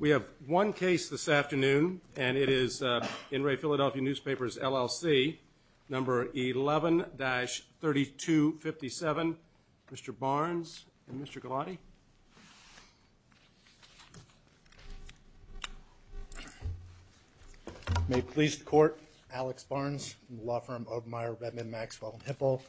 We have one case this afternoon and it is in Re Philadelphia Newspapers, LLC, number 11-3257, Mr. Barnes and Mr. Galati. May it please the court, Alex Barnes, law firm of my Redmond Maxwell & Hipple,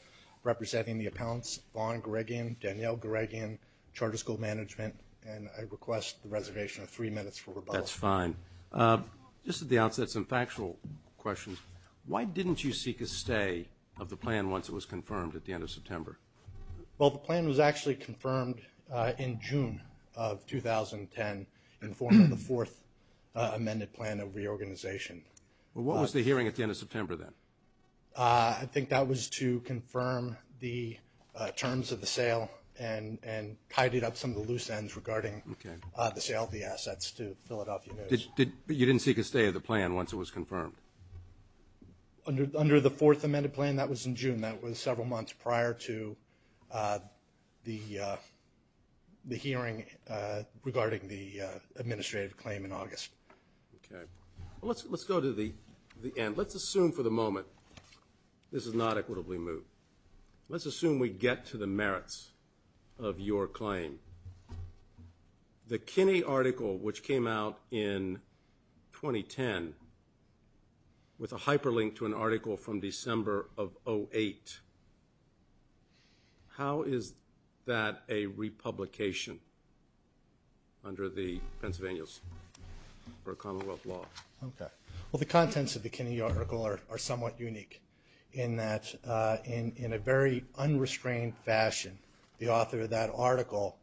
representing the appellants Vaughn Greggian, Danielle Greggian, Charter School Management and I request the reservation of three minutes for rebuttal. That's fine. Just at the outset, some factual questions. Why didn't you seek a stay of the plan once it was confirmed at the end of September? Well, the plan was actually confirmed in June of 2010 in the form of the fourth amended plan of reorganization. What was the hearing at the end of September then? I think that was to confirm the terms of the sale and tidied up some of the loose ends regarding the sale of the assets to Philadelphia News. But you didn't seek a stay of the plan once it was confirmed? Under the fourth amended plan, that was in June. That was several months prior to the hearing regarding the administrative claim in August. Okay. Let's go to the end. Let's assume for the moment this is not equitably moved. Let's assume we get to the merits of your claim. The Kinney article, which came out in 2010, with a hyperlink to an article from December of 2008, how is that a republication under the Pennsylvania's or Commonwealth law? Okay. Well, the contents of the Kinney article are somewhat unique in that in a very unrestrained fashion, the author of that article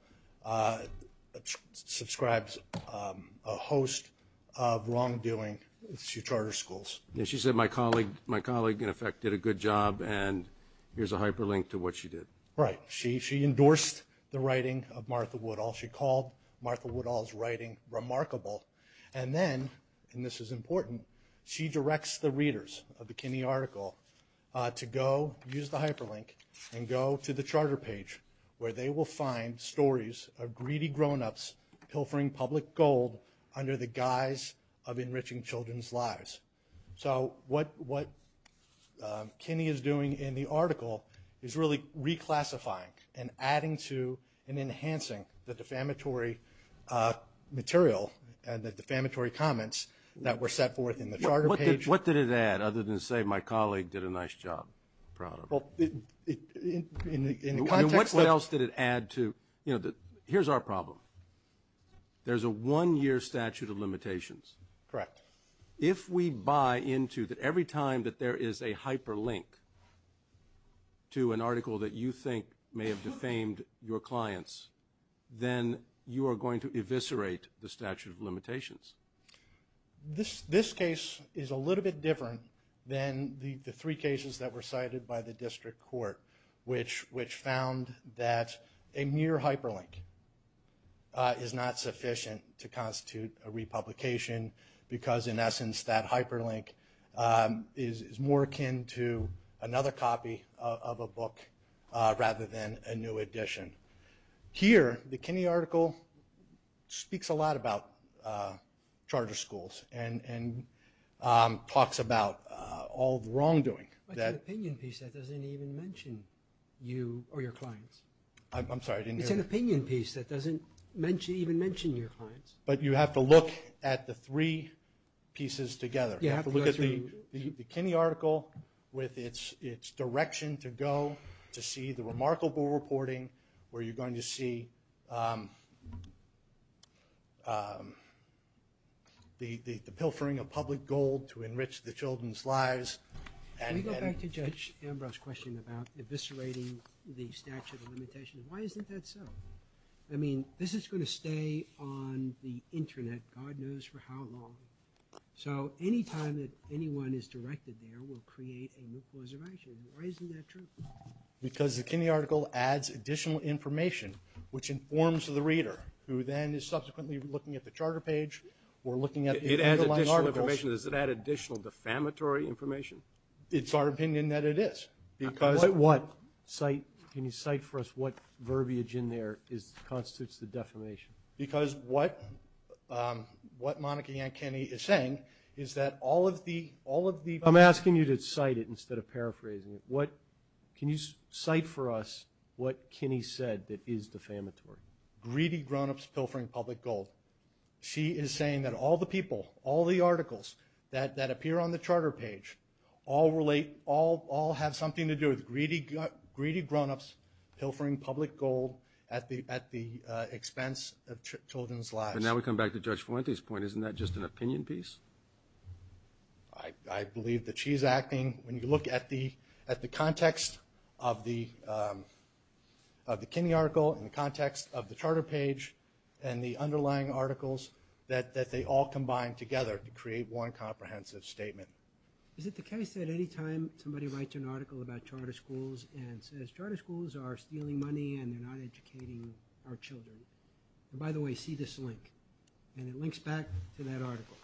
subscribes a host of wrongdoing to charter schools. And she said my colleague, in effect, did a good job, and here's a hyperlink to what she did. Right. She endorsed the writing of Martha Woodall. She called Martha Woodall's writing remarkable. And then, and this is important, she directs the readers of the Kinney article to go use the hyperlink and go to the charter page where they will find stories of greedy grownups pilfering public gold under the guise of enriching children's lives. So what Kinney is doing in the article is really reclassifying and adding to and enhancing the defamatory material and the defamatory comments that were set forth in the charter page. What did it add, other than to say my colleague did a nice job? Well, in the context of the – What else did it add to? You know, here's our problem. There's a one-year statute of limitations. Correct. If we buy into that every time that there is a hyperlink to an article that you think may have defamed your clients, then you are going to eviscerate the statute of limitations. This case is a little bit different than the three cases that were cited by the district court, which found that a mere hyperlink is not sufficient to constitute a republication because, in essence, that hyperlink is more akin to another copy of a book rather than a new edition. Here, the Kinney article speaks a lot about charter schools and talks about all the wrongdoing. But it's an opinion piece that doesn't even mention you or your clients. I'm sorry, I didn't hear that. It's an opinion piece that doesn't even mention your clients. But you have to look at the three pieces together. You have to look at the Kinney article with its direction to go to see the remarkable reporting where you're going to see the pilfering of public gold to enrich the children's lives. Can we go back to Judge Ambrose's question about eviscerating the statute of limitations? Why isn't that so? I mean, this is going to stay on the Internet God knows for how long. So any time that anyone is directed there, we'll create a new preservation. Why isn't that true? Because the Kinney article adds additional information, which informs the reader, who then is subsequently looking at the charter page or looking at the underlying articles. It adds additional information. Does it add additional defamatory information? It's our opinion that it is. Can you cite for us what verbiage in there constitutes the defamation? Because what Monica Ann Kinney is saying is that all of the – I'm asking you to cite it instead of paraphrasing it. Can you cite for us what Kinney said that is defamatory? Greedy grown-ups pilfering public gold. She is saying that all the people, all the articles that appear on the charter page, all have something to do with greedy grown-ups pilfering public gold at the expense of children's lives. But now we come back to Judge Fuente's point. Isn't that just an opinion piece? I believe that she's acting. When you look at the context of the Kinney article and the context of the charter page and the underlying articles, that they all combine together to create one comprehensive statement. Is it the case that any time somebody writes an article about charter schools and says charter schools are stealing money and they're not educating our children, by the way, see this link, and it links back to that article,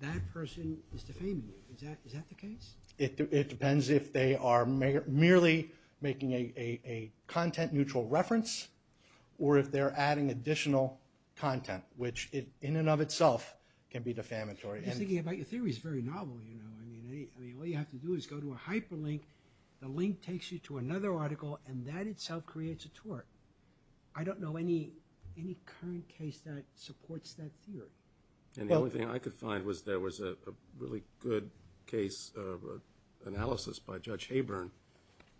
that person is defaming you. Is that the case? It depends if they are merely making a content-neutral reference or if they're adding additional content, which in and of itself can be defamatory. Your theory is very novel. All you have to do is go to a hyperlink, the link takes you to another article, and that itself creates a tort. I don't know any current case that supports that theory. The only thing I could find was there was a really good case analysis by Judge Haburn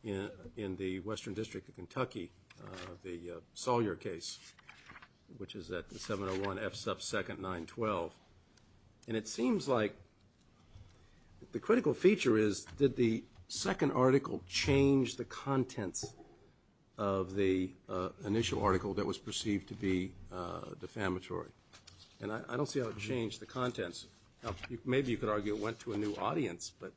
in the Western District of Kentucky, the Sawyer case, which is at 701 F sub 2nd, 912. And it seems like the critical feature is, did the second article change the contents of the initial article that was perceived to be defamatory? And I don't see how it changed the contents. Maybe you could argue it went to a new audience, but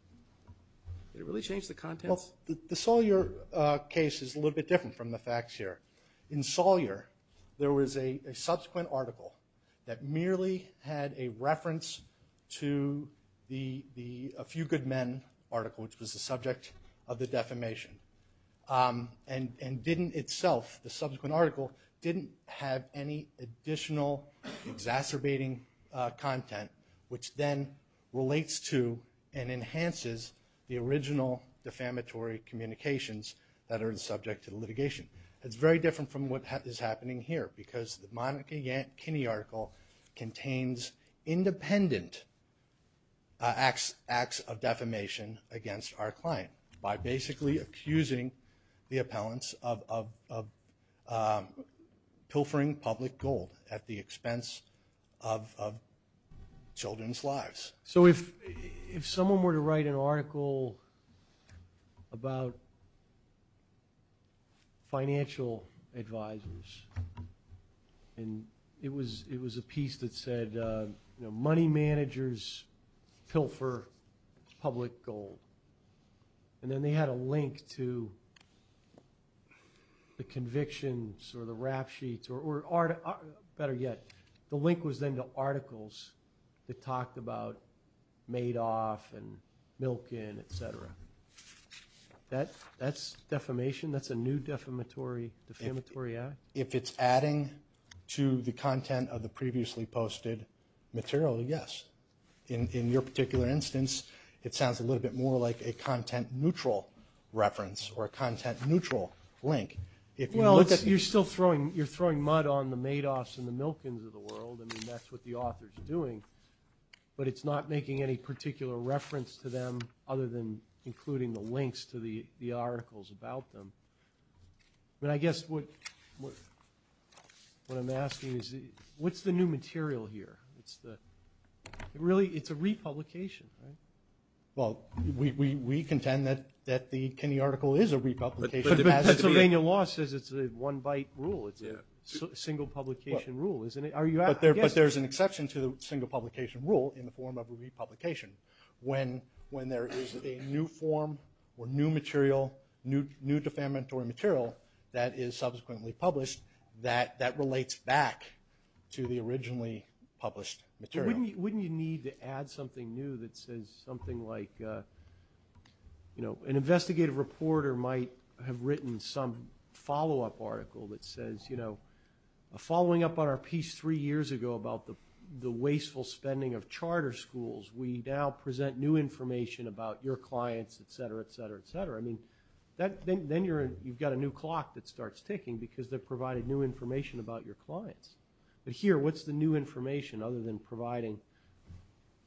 did it really change the contents? The Sawyer case is a little bit different from the facts here. In Sawyer, there was a subsequent article that merely had a reference to the A Few Good Men article, which was the subject of the defamation, and didn't itself, the subsequent article, didn't have any additional exacerbating content, which then relates to and enhances the original defamatory communications that are the subject of the litigation. It's very different from what is happening here, because the Monica Kinney article contains independent acts of defamation against our client by basically accusing the appellants of pilfering public gold So if someone were to write an article about financial advisors, and it was a piece that said money managers pilfer public gold, and then they had a link to the convictions or the rap sheets, better yet, the link was then to articles that talked about Madoff and Milken, etc. That's defamation? That's a new defamatory act? If it's adding to the content of the previously posted material, yes. In your particular instance, it sounds a little bit more like a content-neutral reference or a content-neutral link. You're still throwing mud on the Madoffs and the Milkens of the world. That's what the author is doing, but it's not making any particular reference to them other than including the links to the articles about them. I guess what I'm asking is what's the new material here? Really, it's a republication. We contend that the Kinney article is a republication. Pennsylvania law says it's a one-byte rule. It's a single-publication rule, isn't it? But there's an exception to the single-publication rule in the form of a republication. When there is a new form or new material, new defamatory material that is subsequently published, that relates back to the originally published material. Wouldn't you need to add something new that says something like, an investigative reporter might have written some follow-up article that says, following up on our piece three years ago about the wasteful spending of charter schools, we now present new information about your clients, et cetera, et cetera, et cetera. Then you've got a new clock that starts ticking because they've provided new information about your clients. But here, what's the new information other than providing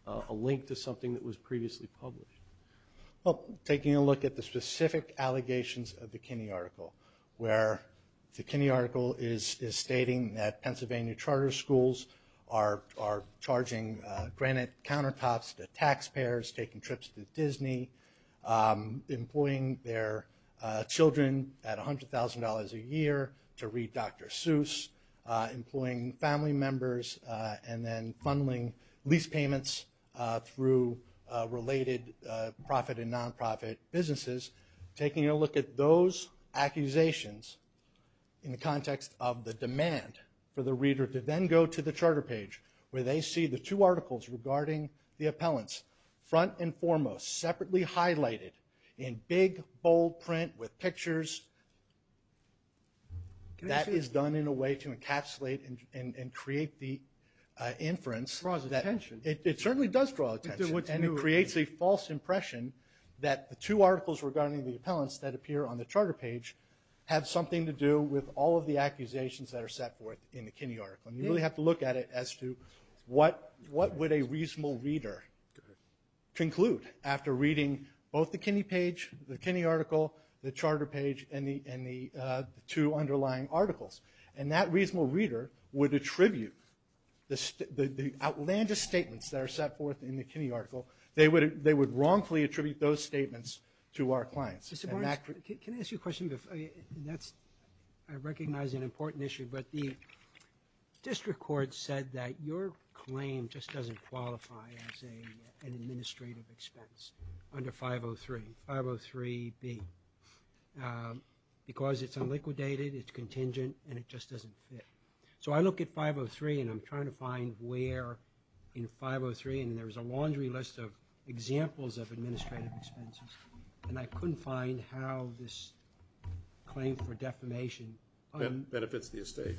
a link to something that was previously published? Well, taking a look at the specific allegations of the Kinney article, where the Kinney article is stating that Pennsylvania charter schools are charging granite countertops to taxpayers, taking trips to Disney, employing their children at $100,000 a year to read Dr. Seuss, employing family members and then funneling lease payments through related profit and non-profit businesses, taking a look at those accusations in the context of the demand for the reader to then go to the charter page where they see the two articles regarding the appellants, front and foremost, separately highlighted in big, bold print with pictures, that is done in a way to encapsulate and create the inference. It draws attention. It certainly does draw attention, and it creates a false impression that the two articles regarding the appellants that appear on the charter page have something to do with all of the accusations that are set forth in the Kinney article. You really have to look at it as to what would a reasonable reader conclude after reading both the Kinney page, the Kinney article, the charter page, and the two underlying articles. And that reasonable reader would attribute the outlandish statements that are set forth in the Kinney article. They would wrongfully attribute those statements to our clients. Mr. Barnes, can I ask you a question? I recognize an important issue, but the district court said that your claim just doesn't qualify as an administrative expense under 503, 503B, because it's unliquidated, it's contingent, and it just doesn't fit. So I look at 503, and I'm trying to find where in 503, and there was a laundry list of examples of administrative expenses, and I couldn't find how this claim for defamation benefits the estate,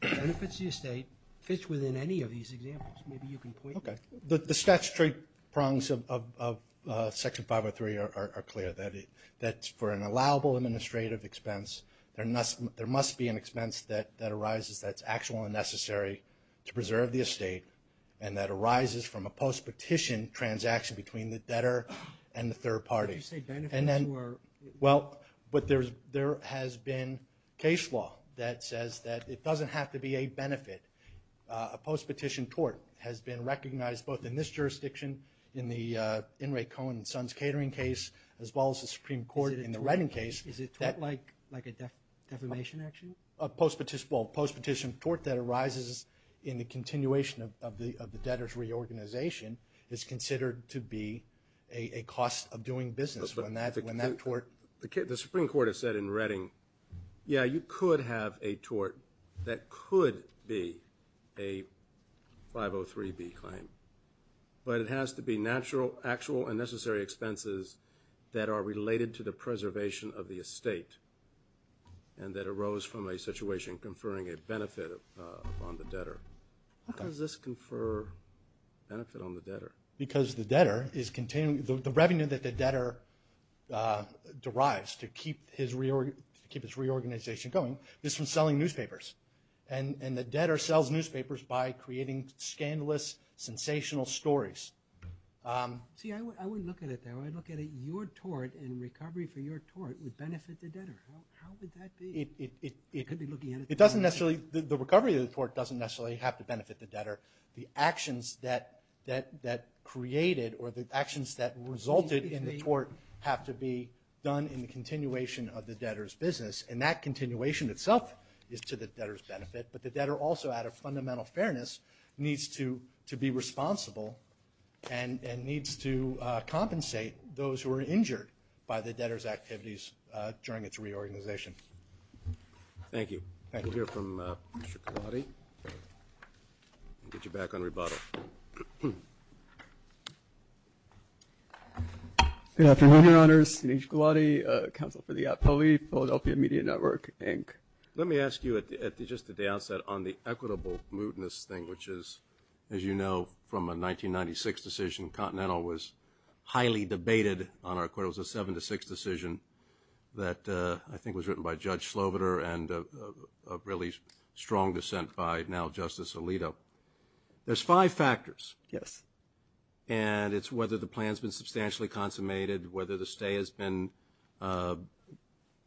benefits the estate, fits within any of these examples. Maybe you can point me. Okay. The statutory prongs of Section 503 are clear, that for an allowable administrative expense, there must be an expense that arises that's actually necessary to preserve the estate, and that arises from a post-petition transaction between the debtor and the third party. Did you say benefits or? Well, but there has been case law that says that it doesn't have to be a benefit. A post-petition tort has been recognized both in this jurisdiction, in the In re Cohen and Sons Catering case, as well as the Supreme Court in the Redding case. Is it tort like a defamation action? A post-petition tort that arises in the continuation of the debtor's reorganization is considered to be a cost of doing business. The Supreme Court has said in Redding, yeah, you could have a tort that could be a 503B claim, but it has to be actual and necessary expenses that are related to the preservation of the estate and that arose from a situation conferring a benefit upon the debtor. How does this confer benefit on the debtor? Because the revenue that the debtor derives to keep his reorganization going is from selling newspapers, and the debtor sells newspapers by creating scandalous, sensational stories. See, I wouldn't look at it that way. I'd look at it, your tort and recovery for your tort would benefit the debtor. How would that be? It doesn't necessarily, the recovery of the tort doesn't necessarily have to benefit the debtor. The actions that created or the actions that resulted in the tort have to be done in the continuation of the debtor's business, and that continuation itself is to the debtor's benefit, but the debtor also, out of fundamental fairness, needs to be responsible and needs to compensate those who are injured by the debtor's activities during its reorganization. Thank you. We'll hear from Mr. Gulati and get you back on rebuttal. Good afternoon, Your Honors. Anish Gulati, counsel for the APOLE, Philadelphia Media Network, Inc. Let me ask you, just at the outset, on the equitable mootness thing, which is, as you know from a 1996 decision, Continental was highly debated on our court. It was a 7-6 decision that I think was written by Judge Sloviter and a really strong dissent by now Justice Alito. There's five factors. Yes. And it's whether the plan's been substantially consummated, whether the stay has been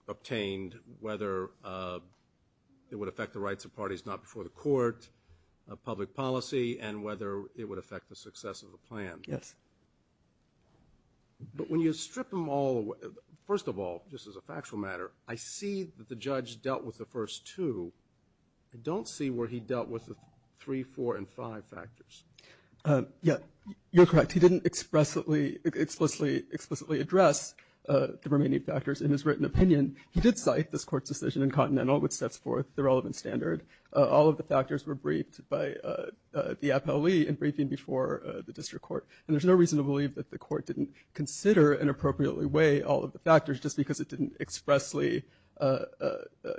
obtained, whether it would affect the rights of parties not before the court, public policy, and whether it would affect the success of the plan. Yes. But when you strip them all away, first of all, just as a factual matter, I see that the judge dealt with the first two. I don't see where he dealt with the three, four, and five factors. Yeah, you're correct. He didn't explicitly address the remaining factors in his written opinion. He did cite this court's decision in Continental, which sets forth the relevant standard. All of the factors were briefed by the APOLE in briefing before the district court, and there's no reason to believe that the court didn't consider and explicitly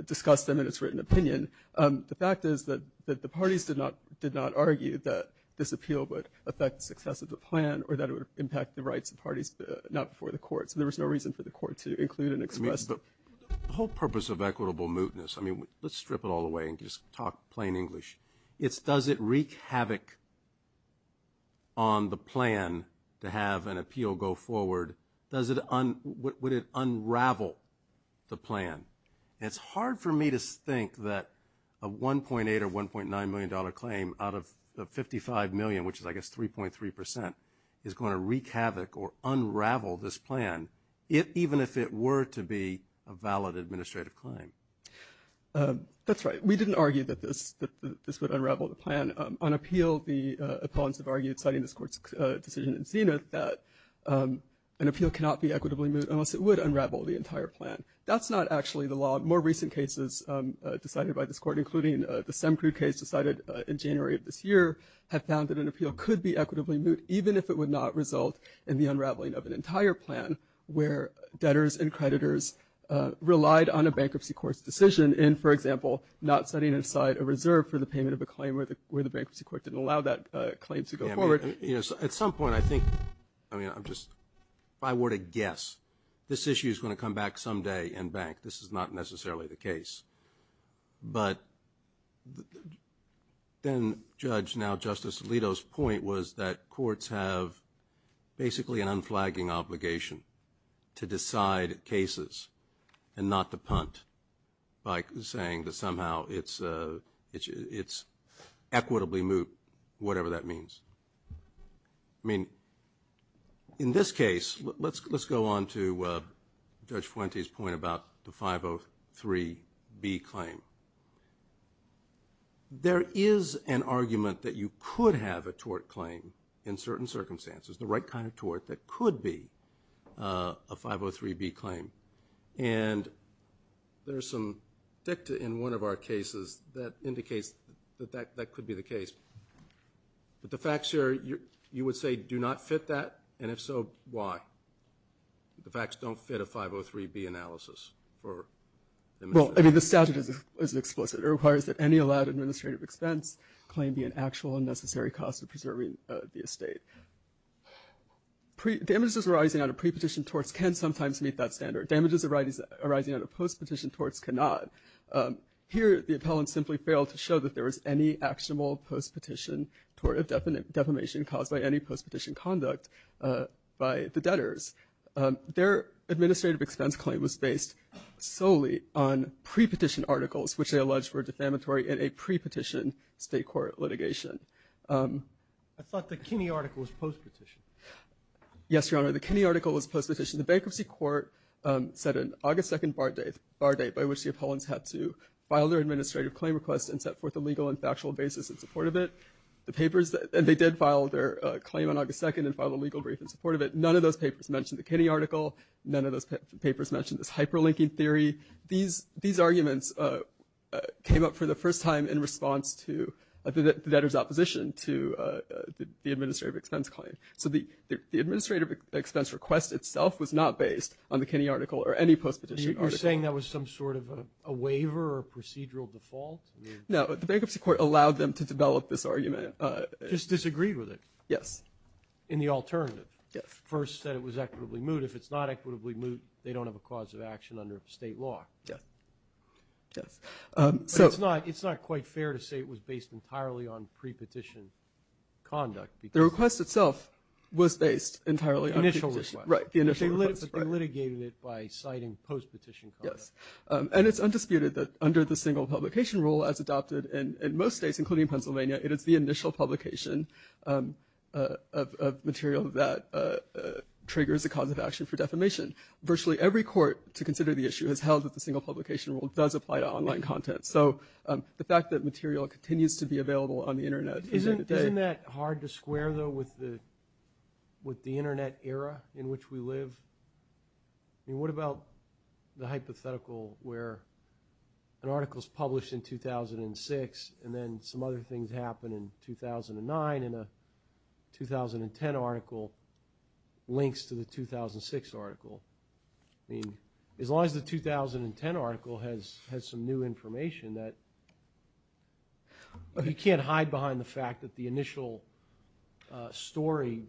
discuss them in its written opinion. The fact is that the parties did not argue that this appeal would affect the success of the plan or that it would impact the rights of parties not before the court. So there was no reason for the court to include and express. The whole purpose of equitable mootness, I mean, let's strip it all away and just talk plain English. It's does it wreak havoc on the plan to have an appeal go forward? Would it unravel the plan? It's hard for me to think that a $1.8 or $1.9 million claim out of the $55 million, which is, I guess, 3.3%, is going to wreak havoc or unravel this plan, even if it were to be a valid administrative claim. That's right. We didn't argue that this would unravel the plan. On appeal, the opponents have argued, citing this court's decision in Zenith, that an appeal cannot be equitably moot unless it would unravel the entire plan. That's not actually the law. More recent cases decided by this court, including the Semcrude case decided in January of this year, have found that an appeal could be equitably moot, even if it would not result in the unraveling of an entire plan where debtors and creditors relied on a bankruptcy court's decision in, for example, not setting aside a reserve for the payment of a claim where the debtor would not allow that claim to go forward. At some point, I think, if I were to guess, this issue is going to come back someday in bank. This is not necessarily the case. But then Judge, now Justice Alito's point was that courts have basically an unflagging obligation to decide cases and not to punt by saying that somehow it's going to equitably moot, whatever that means. I mean, in this case, let's go on to Judge Fuente's point about the 503B claim. There is an argument that you could have a tort claim in certain circumstances, the right kind of tort, that could be a 503B claim. And there's some dicta in one of our cases that indicates that that could be the case. But the facts here, you would say do not fit that? And if so, why? The facts don't fit a 503B analysis. Well, I mean, the statute is explicit. It requires that any allowed administrative expense claim be an actual unnecessary cost of preserving the estate. Damages arising out of pre-petition torts can sometimes meet that standard. Damages arising out of post-petition torts cannot. Here, the appellant simply failed to show that there was any actionable post-petition tort of defamation caused by any post-petition conduct by the debtors. Their administrative expense claim was based solely on pre-petition articles, which they allege were defamatory in a pre-petition state court litigation. I thought the Kinney article was post-petition. Yes, Your Honor, the Kinney article was post-petition. The bankruptcy court set an August 2nd bar date by which the appellants had to file their administrative claim request and set forth a legal and factual basis in support of it. The papers, and they did file their claim on August 2nd and file a legal brief in support of it. None of those papers mentioned the Kinney article. None of those papers mentioned this hyperlinking theory. These arguments came up for the first time in response to the debtor's opposition to the administrative expense claim. So the administrative expense request itself was not based on the Kinney article or any post-petition article. You're saying that was some sort of a waiver or procedural default? No, the bankruptcy court allowed them to develop this argument. Just disagreed with it. Yes. In the alternative. Yes. First said it was equitably moot. If it's not equitably moot, they don't have a cause of action under state law. Yes. Yes. It's not quite fair to say it was based entirely on pre-petition conduct. The request itself was based entirely on pre-petition. Initial request. Right, the initial request. But they litigated it by citing post-petition conduct. Yes. And it's undisputed that under the single publication rule as adopted in most states, including Pennsylvania, it is the initial publication of material that triggers a cause of action for defamation. Virtually every court to consider the issue has held that the single publication rule does apply to online content. So the fact that material continues to be available on the Internet. Isn't that hard to square, though, with the Internet era in which we live? I mean, what about the hypothetical where an article is published in 2006 and then some other things happen in 2009 and a 2010 article links to the 2006 article? I mean, as long as the 2010 article has some new information that you can't hide behind the fact that the initial story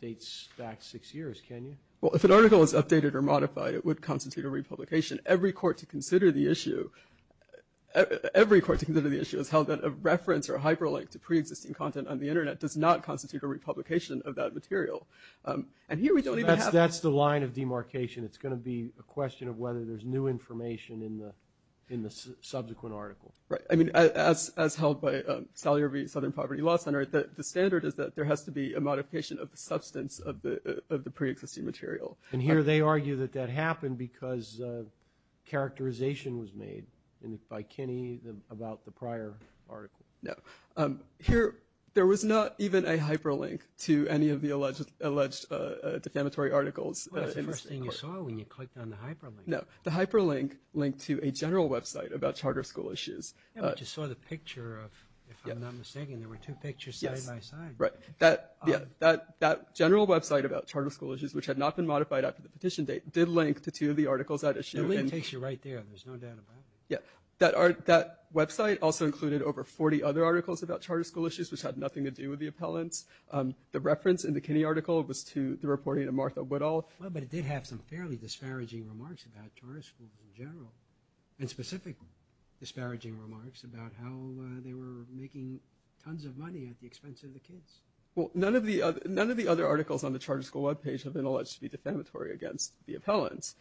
dates back six years, can you? Well, if an article is updated or modified, it would constitute a republication. Every court to consider the issue has held that a reference or hyperlink to pre-existing content on the Internet does not constitute a republication of that material. And here we don't even have to. That's the line of demarcation. It's going to be a question of whether there's new information in the subsequent article. Right. I mean, as held by Salyer v. Southern Poverty Law Center, the standard is that there has to be a modification of the substance of the pre-existing material. And here they argue that that happened because characterization was made by Kinney about the prior article. No. Here there was not even a hyperlink to any of the alleged defamatory articles. Well, that's the first thing you saw when you clicked on the hyperlink. No. The hyperlink linked to a general website about charter school issues. Yeah, but you saw the picture of, if I'm not mistaken, there were two pictures side by side. Yes. Right. That general website about charter school issues, which had not been modified after the petition date, did link to two of the articles that issued. The link takes you right there. There's no doubt about it. Yeah. That website also included over 40 other articles about charter school issues, which had nothing to do with the appellants. The reference in the Kinney article was to the reporting of Martha Woodall. Well, but it did have some fairly disparaging remarks about charter schools in general, and specific disparaging remarks about how they were making tons of money at the expense of the kids. Well, none of the other articles on the charter school webpage have been alleged to be defamatory against the appellants.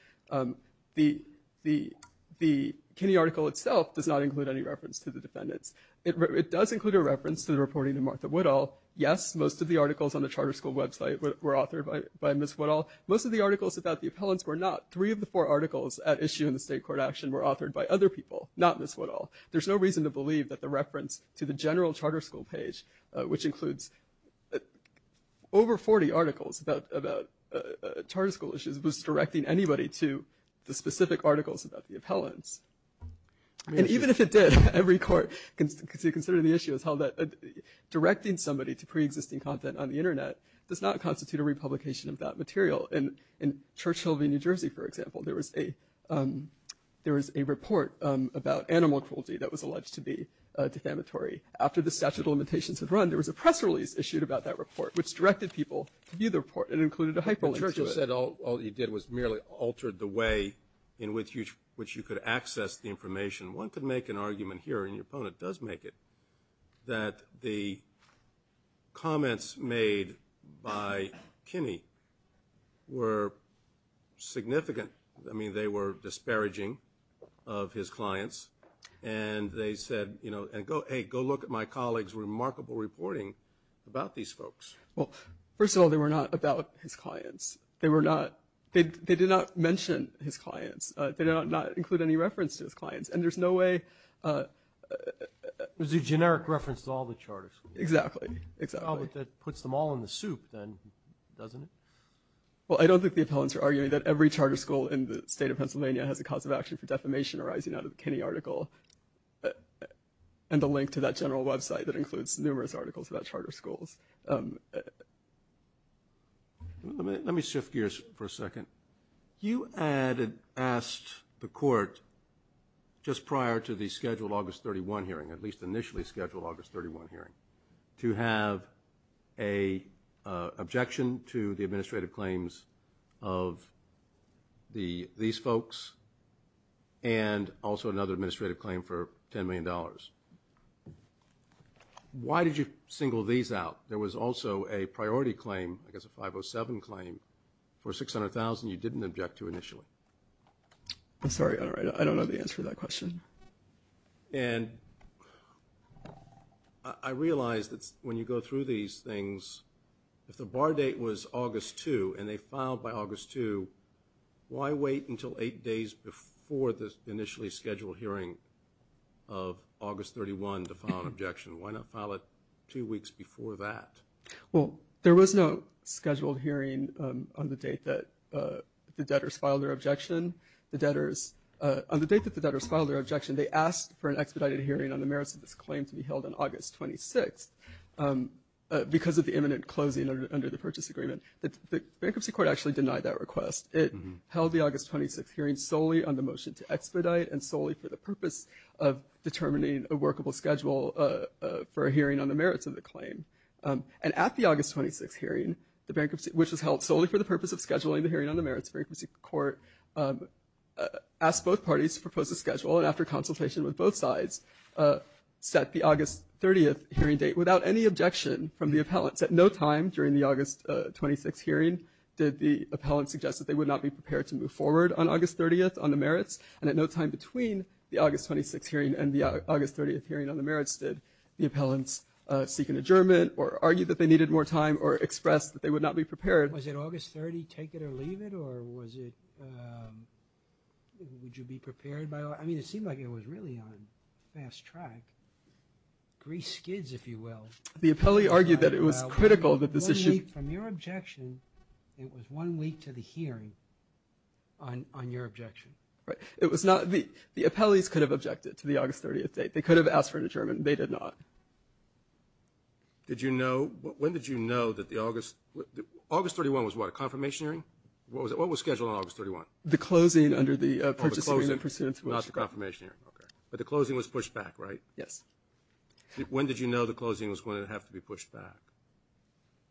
The Kinney article itself does not include any reference to the defendants. It does include a reference to the reporting of Martha Woodall. Yes, most of the articles on the charter school website were authored by Ms. Woodall. Most of the articles about the appellants were not. Three of the four articles at issue in the state court action were authored by other people, not Ms. Woodall. There's no reason to believe that the reference to the general charter school page, which includes over 40 articles about charter school issues, was directing anybody to the specific articles about the appellants. And even if it did, every court considering the issue has held that directing somebody to preexisting content on the Internet does not material. In Churchill v. New Jersey, for example, there was a report about animal cruelty that was alleged to be defamatory. After the statute of limitations had run, there was a press release issued about that report, which directed people to view the report. It included a hyperlink to it. But Churchill said all he did was merely altered the way in which you could access the information. One could make an argument here, and your opponent does make it, that the comments made by Kinney were significant. I mean, they were disparaging of his clients. And they said, you know, hey, go look at my colleague's remarkable reporting about these folks. Well, first of all, they were not about his clients. They did not mention his clients. They did not include any reference to his clients. And there's no way. It was a generic reference to all the charter schools. Exactly, exactly. Well, but that puts them all in the soup, then, doesn't it? Well, I don't think the appellants are arguing that every charter school in the state of Pennsylvania has a cause of action for defamation arising out of the Kinney article and a link to that general website that includes numerous articles about charter schools. Let me shift gears for a second. You asked the court just prior to the scheduled August 31 hearing, at least initially scheduled August 31 hearing, to have an objection to the administrative claims of these folks and also another administrative claim for $10 million. Why did you single these out? There was also a priority claim, I guess a 507 claim, for $600,000 you didn't object to initially. I'm sorry. I don't have the answer to that question. And I realize that when you go through these things, if the bar date was August 2 and they filed by August 2, why wait until eight days before the initially scheduled hearing of August 31 to file an objection? Why not file it two weeks before that? Well, there was no scheduled hearing on the date that the debtors filed their objection. On the date that the debtors filed their objection, they asked for an expedited hearing on the merits of this claim to be held on August 26 because of the imminent closing under the purchase agreement. The bankruptcy court actually denied that request. It held the August 26 hearing solely on the motion to expedite and solely for the purpose of determining a workable schedule for a hearing on the merits. And at the August 26 hearing, which was held solely for the purpose of scheduling the hearing on the merits, the bankruptcy court asked both parties to propose a schedule. And after consultation with both sides, set the August 30th hearing date without any objection from the appellants. At no time during the August 26 hearing did the appellants suggest that they would not be prepared to move forward on August 30th on the merits. And at no time between the August 26 hearing and the August 30th hearing on the merits did the appellants suggest that they needed more time or express that they would not be prepared. Was it August 30, take it or leave it? Or was it, um, would you be prepared by, I mean, it seemed like it was really on fast track. Grease skids, if you will. The appellee argued that it was critical that this issue from your objection, it was one week to the hearing on, on your objection, right? It was not the, the appellees could have objected to the August 30th date. They could have asked for an adjournment. They did not. Did you know, when did you know that the August, August 31 was what, a confirmation hearing? What was it? What was scheduled on August 31? The closing under the, uh, not the confirmation hearing. Okay. But the closing was pushed back, right? Yes. When did you know the closing was going to have to be pushed back?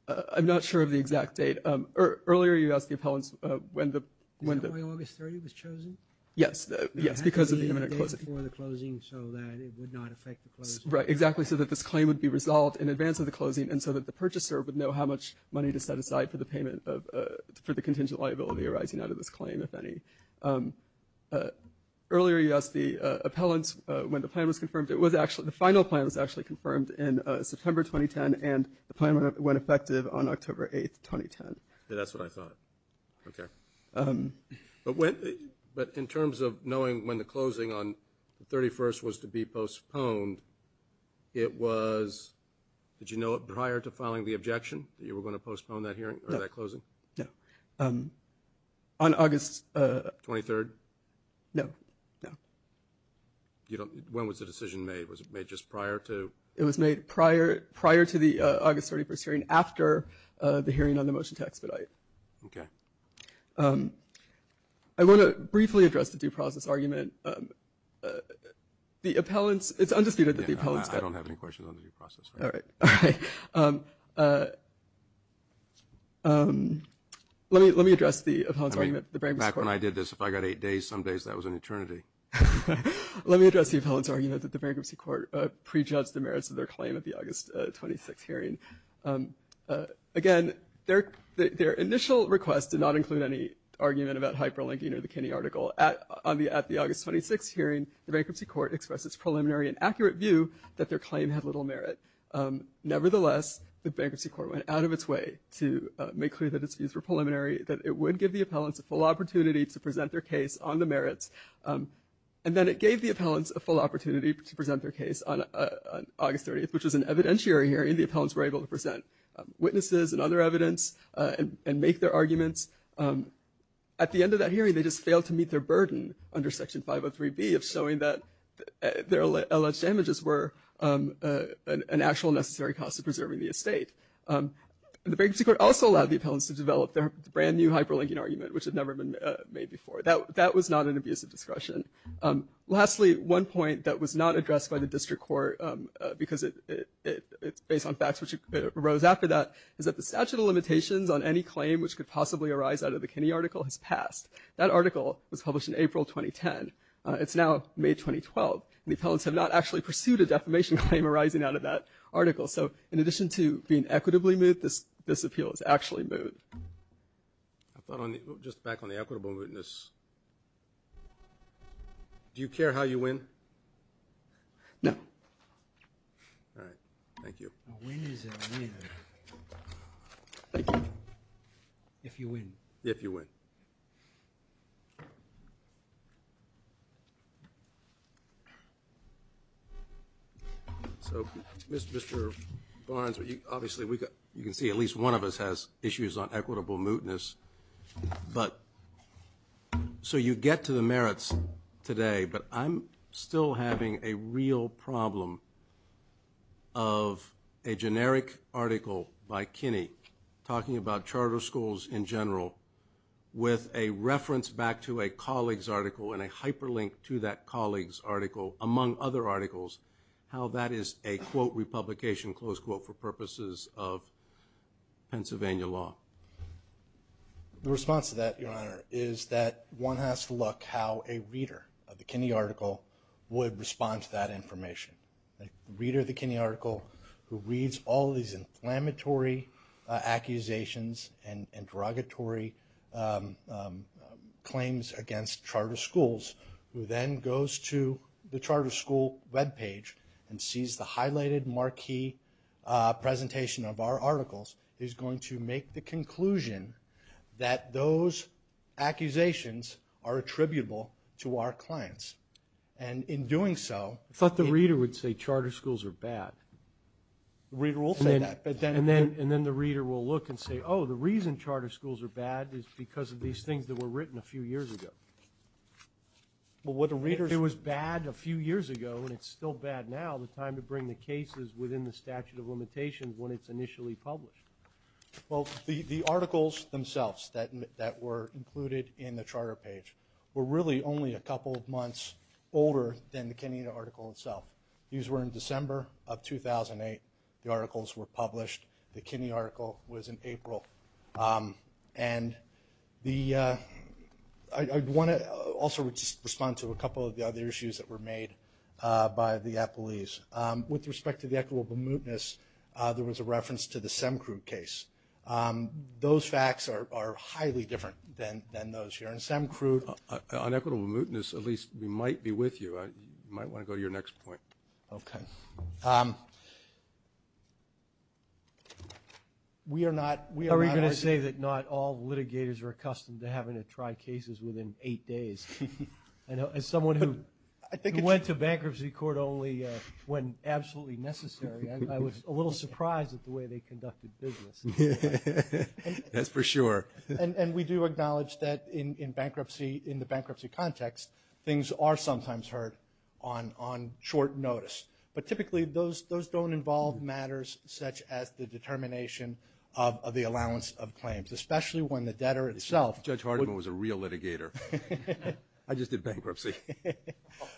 Uh, I'm not sure of the exact date. Um, earlier you asked the appellants, uh, when the, when the August 30th was chosen. Yes. Yes. Because of the imminent closing. So you had to know the date before the closing so that it would not affect the closing. Right. Exactly. So that this claim would be resolved in advance of the closing and so that the purchaser would know how much money to set aside for the payment of, uh, for the contingent liability arising out of this claim, if any. Um, uh, earlier you asked the, uh, appellants, uh, when the plan was confirmed. It was actually, the final plan was actually confirmed in, uh, September 2010 and the plan went, went effective on October 8th, 2010. Yeah, that's what I thought. Okay. Um, but when, but in terms of knowing when the closing on the 31st was to be postponed, it was, did you know it prior to filing the objection that you were going to postpone that hearing or that closing? No. Um, on August, uh, 23rd? No, no. You don't, when was the decision made? Was it made just prior to? It was made prior, prior to the, uh, August 31st hearing after, uh, the hearing on the motion to expedite. Okay. Um, I want to briefly address the due process argument. Um, uh, the appellants, it's undisputed that the appellants. Yeah, I don't have any questions on the due process. All right. All right. Um, uh, um, let me, let me address the appellant's argument. I mean, back when I did this, if I got eight days, some days that was an eternity. Let me address the appellant's argument that the bankruptcy court, uh, prejudged the merits of their claim at the August, uh, 26th hearing. Um, uh, again, their, their initial request did not include any argument about hyperlinking or the Kinney article at, on the, at the August 26th hearing, the bankruptcy court expressed its preliminary and accurate view that their claim had little merit. Um, nevertheless, the bankruptcy court went out of its way to, uh, make clear that its views were preliminary, that it would give the appellants a full opportunity to present their case on the merits. Um, and then it gave the appellants a full opportunity to present their case on, uh, on August 30th, which was an evidentiary hearing. The appellants were able to present, um, witnesses and other evidence, uh, and, and make their arguments. Um, at the end of that hearing, they just failed to meet their burden under section 503B of showing that, uh, their alleged damages were, um, uh, an, an actual necessary cost of preserving the estate. Um, the bankruptcy court also allowed the appellants to develop their brand new hyperlinking argument, which had never been, uh, made before. That, that was not an abusive discretion. Um, lastly, one point that was not addressed by the district court, um, uh, because it, it, it's based on facts which arose after that, is that the statute of limitations on any claim which could possibly arise out of the Kinney article has passed. That article was published in April 2010. Uh, it's now May 2012, and the appellants have not actually pursued a defamation claim arising out of that article. So, in addition to being equitably moot, this, this appeal is actually moot. I thought on the, just back on the equitable mootness. Do you care how you win? No. All right. Thank you. A win is a win. Thank you. If you win. If you win. So, Mr, Mr. Barnes, but, but, but, but, but, but, but, but, but, but, but, but, but, but, but, but, but, The response to that, your honor, is that one has to look how a reader of the Kinney article would respond to that information. The reader of the Kinney article who reads all these inflammatory accusations and derogatory claims against charter schools, who then goes to the charter school webpage and sees the highlighted marquee presentation of our articles, is going to make the conclusion that those accusations are attributable to our clients. And in doing so, I thought the reader would say charter schools are bad. The reader will say that. And then the reader will look and say, oh, the reason charter schools are bad is because of these things that were written a few years ago. Well, what the reader, If it was bad a few years ago and it's still bad now, the time to bring the case is within the statute of limitations when it's initially published. Well, the, the articles themselves that, that were included in the charter page were really only a couple of months older than the Kinney article itself. These were in December of 2008. The articles were published. The Kinney article was in April. And the, I want to also respond to a couple of the other issues that were made by the appellees. With respect to the equitable mootness, there was a reference to the SEMCRUD case. Those facts are, are highly different than, than those here in SEMCRUD. On equitable mootness, at least we might be with you. You might want to go to your next point. Okay. We are not, we are going to say that not all litigators are accustomed to having to try cases within eight days. I know as someone who, I think it went to bankruptcy court only when absolutely necessary. I was a little surprised at the way they conducted business. That's for sure. And, and we do acknowledge that in, in bankruptcy, in the bankruptcy context, things are sometimes heard on, on short notice. But typically those, those don't involve matters such as the determination of, of the allowance of claims, especially when the debtor itself. Judge Hardiman was a real litigator. I just did bankruptcy.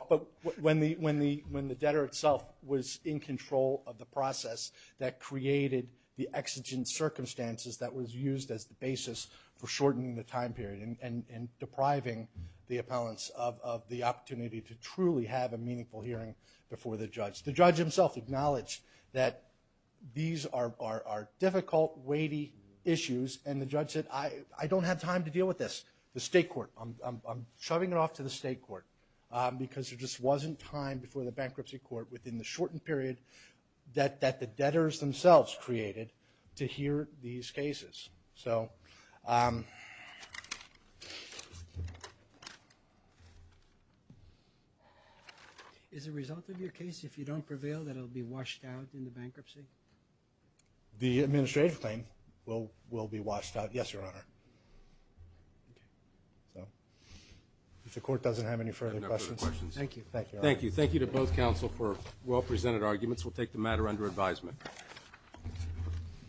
But when the, when the, when the debtor itself was in control of the process that created the exigent circumstances that was used as the basis for shortening the time period and, and depriving the appellants of, of the opportunity to truly have a meaningful hearing before the judge. The judge himself acknowledged that these are, are, are difficult, weighty issues. And the judge said, I, I don't have time to deal with this. The state court, I'm, I'm shoving it off to the state court. Because there just wasn't time before the bankruptcy court within the shortened period that, that the debtors themselves created to hear these cases. So. Is the result of your case, if you don't prevail, that it'll be washed out in the bankruptcy? The administrative claim will, will be washed out. Yes, Your Honor. Okay. So. If the court doesn't have any further questions. I have no further questions. Thank you. Thank you. Thank you. Thank you to both counsel for well presented arguments. We'll take the matter under advisement.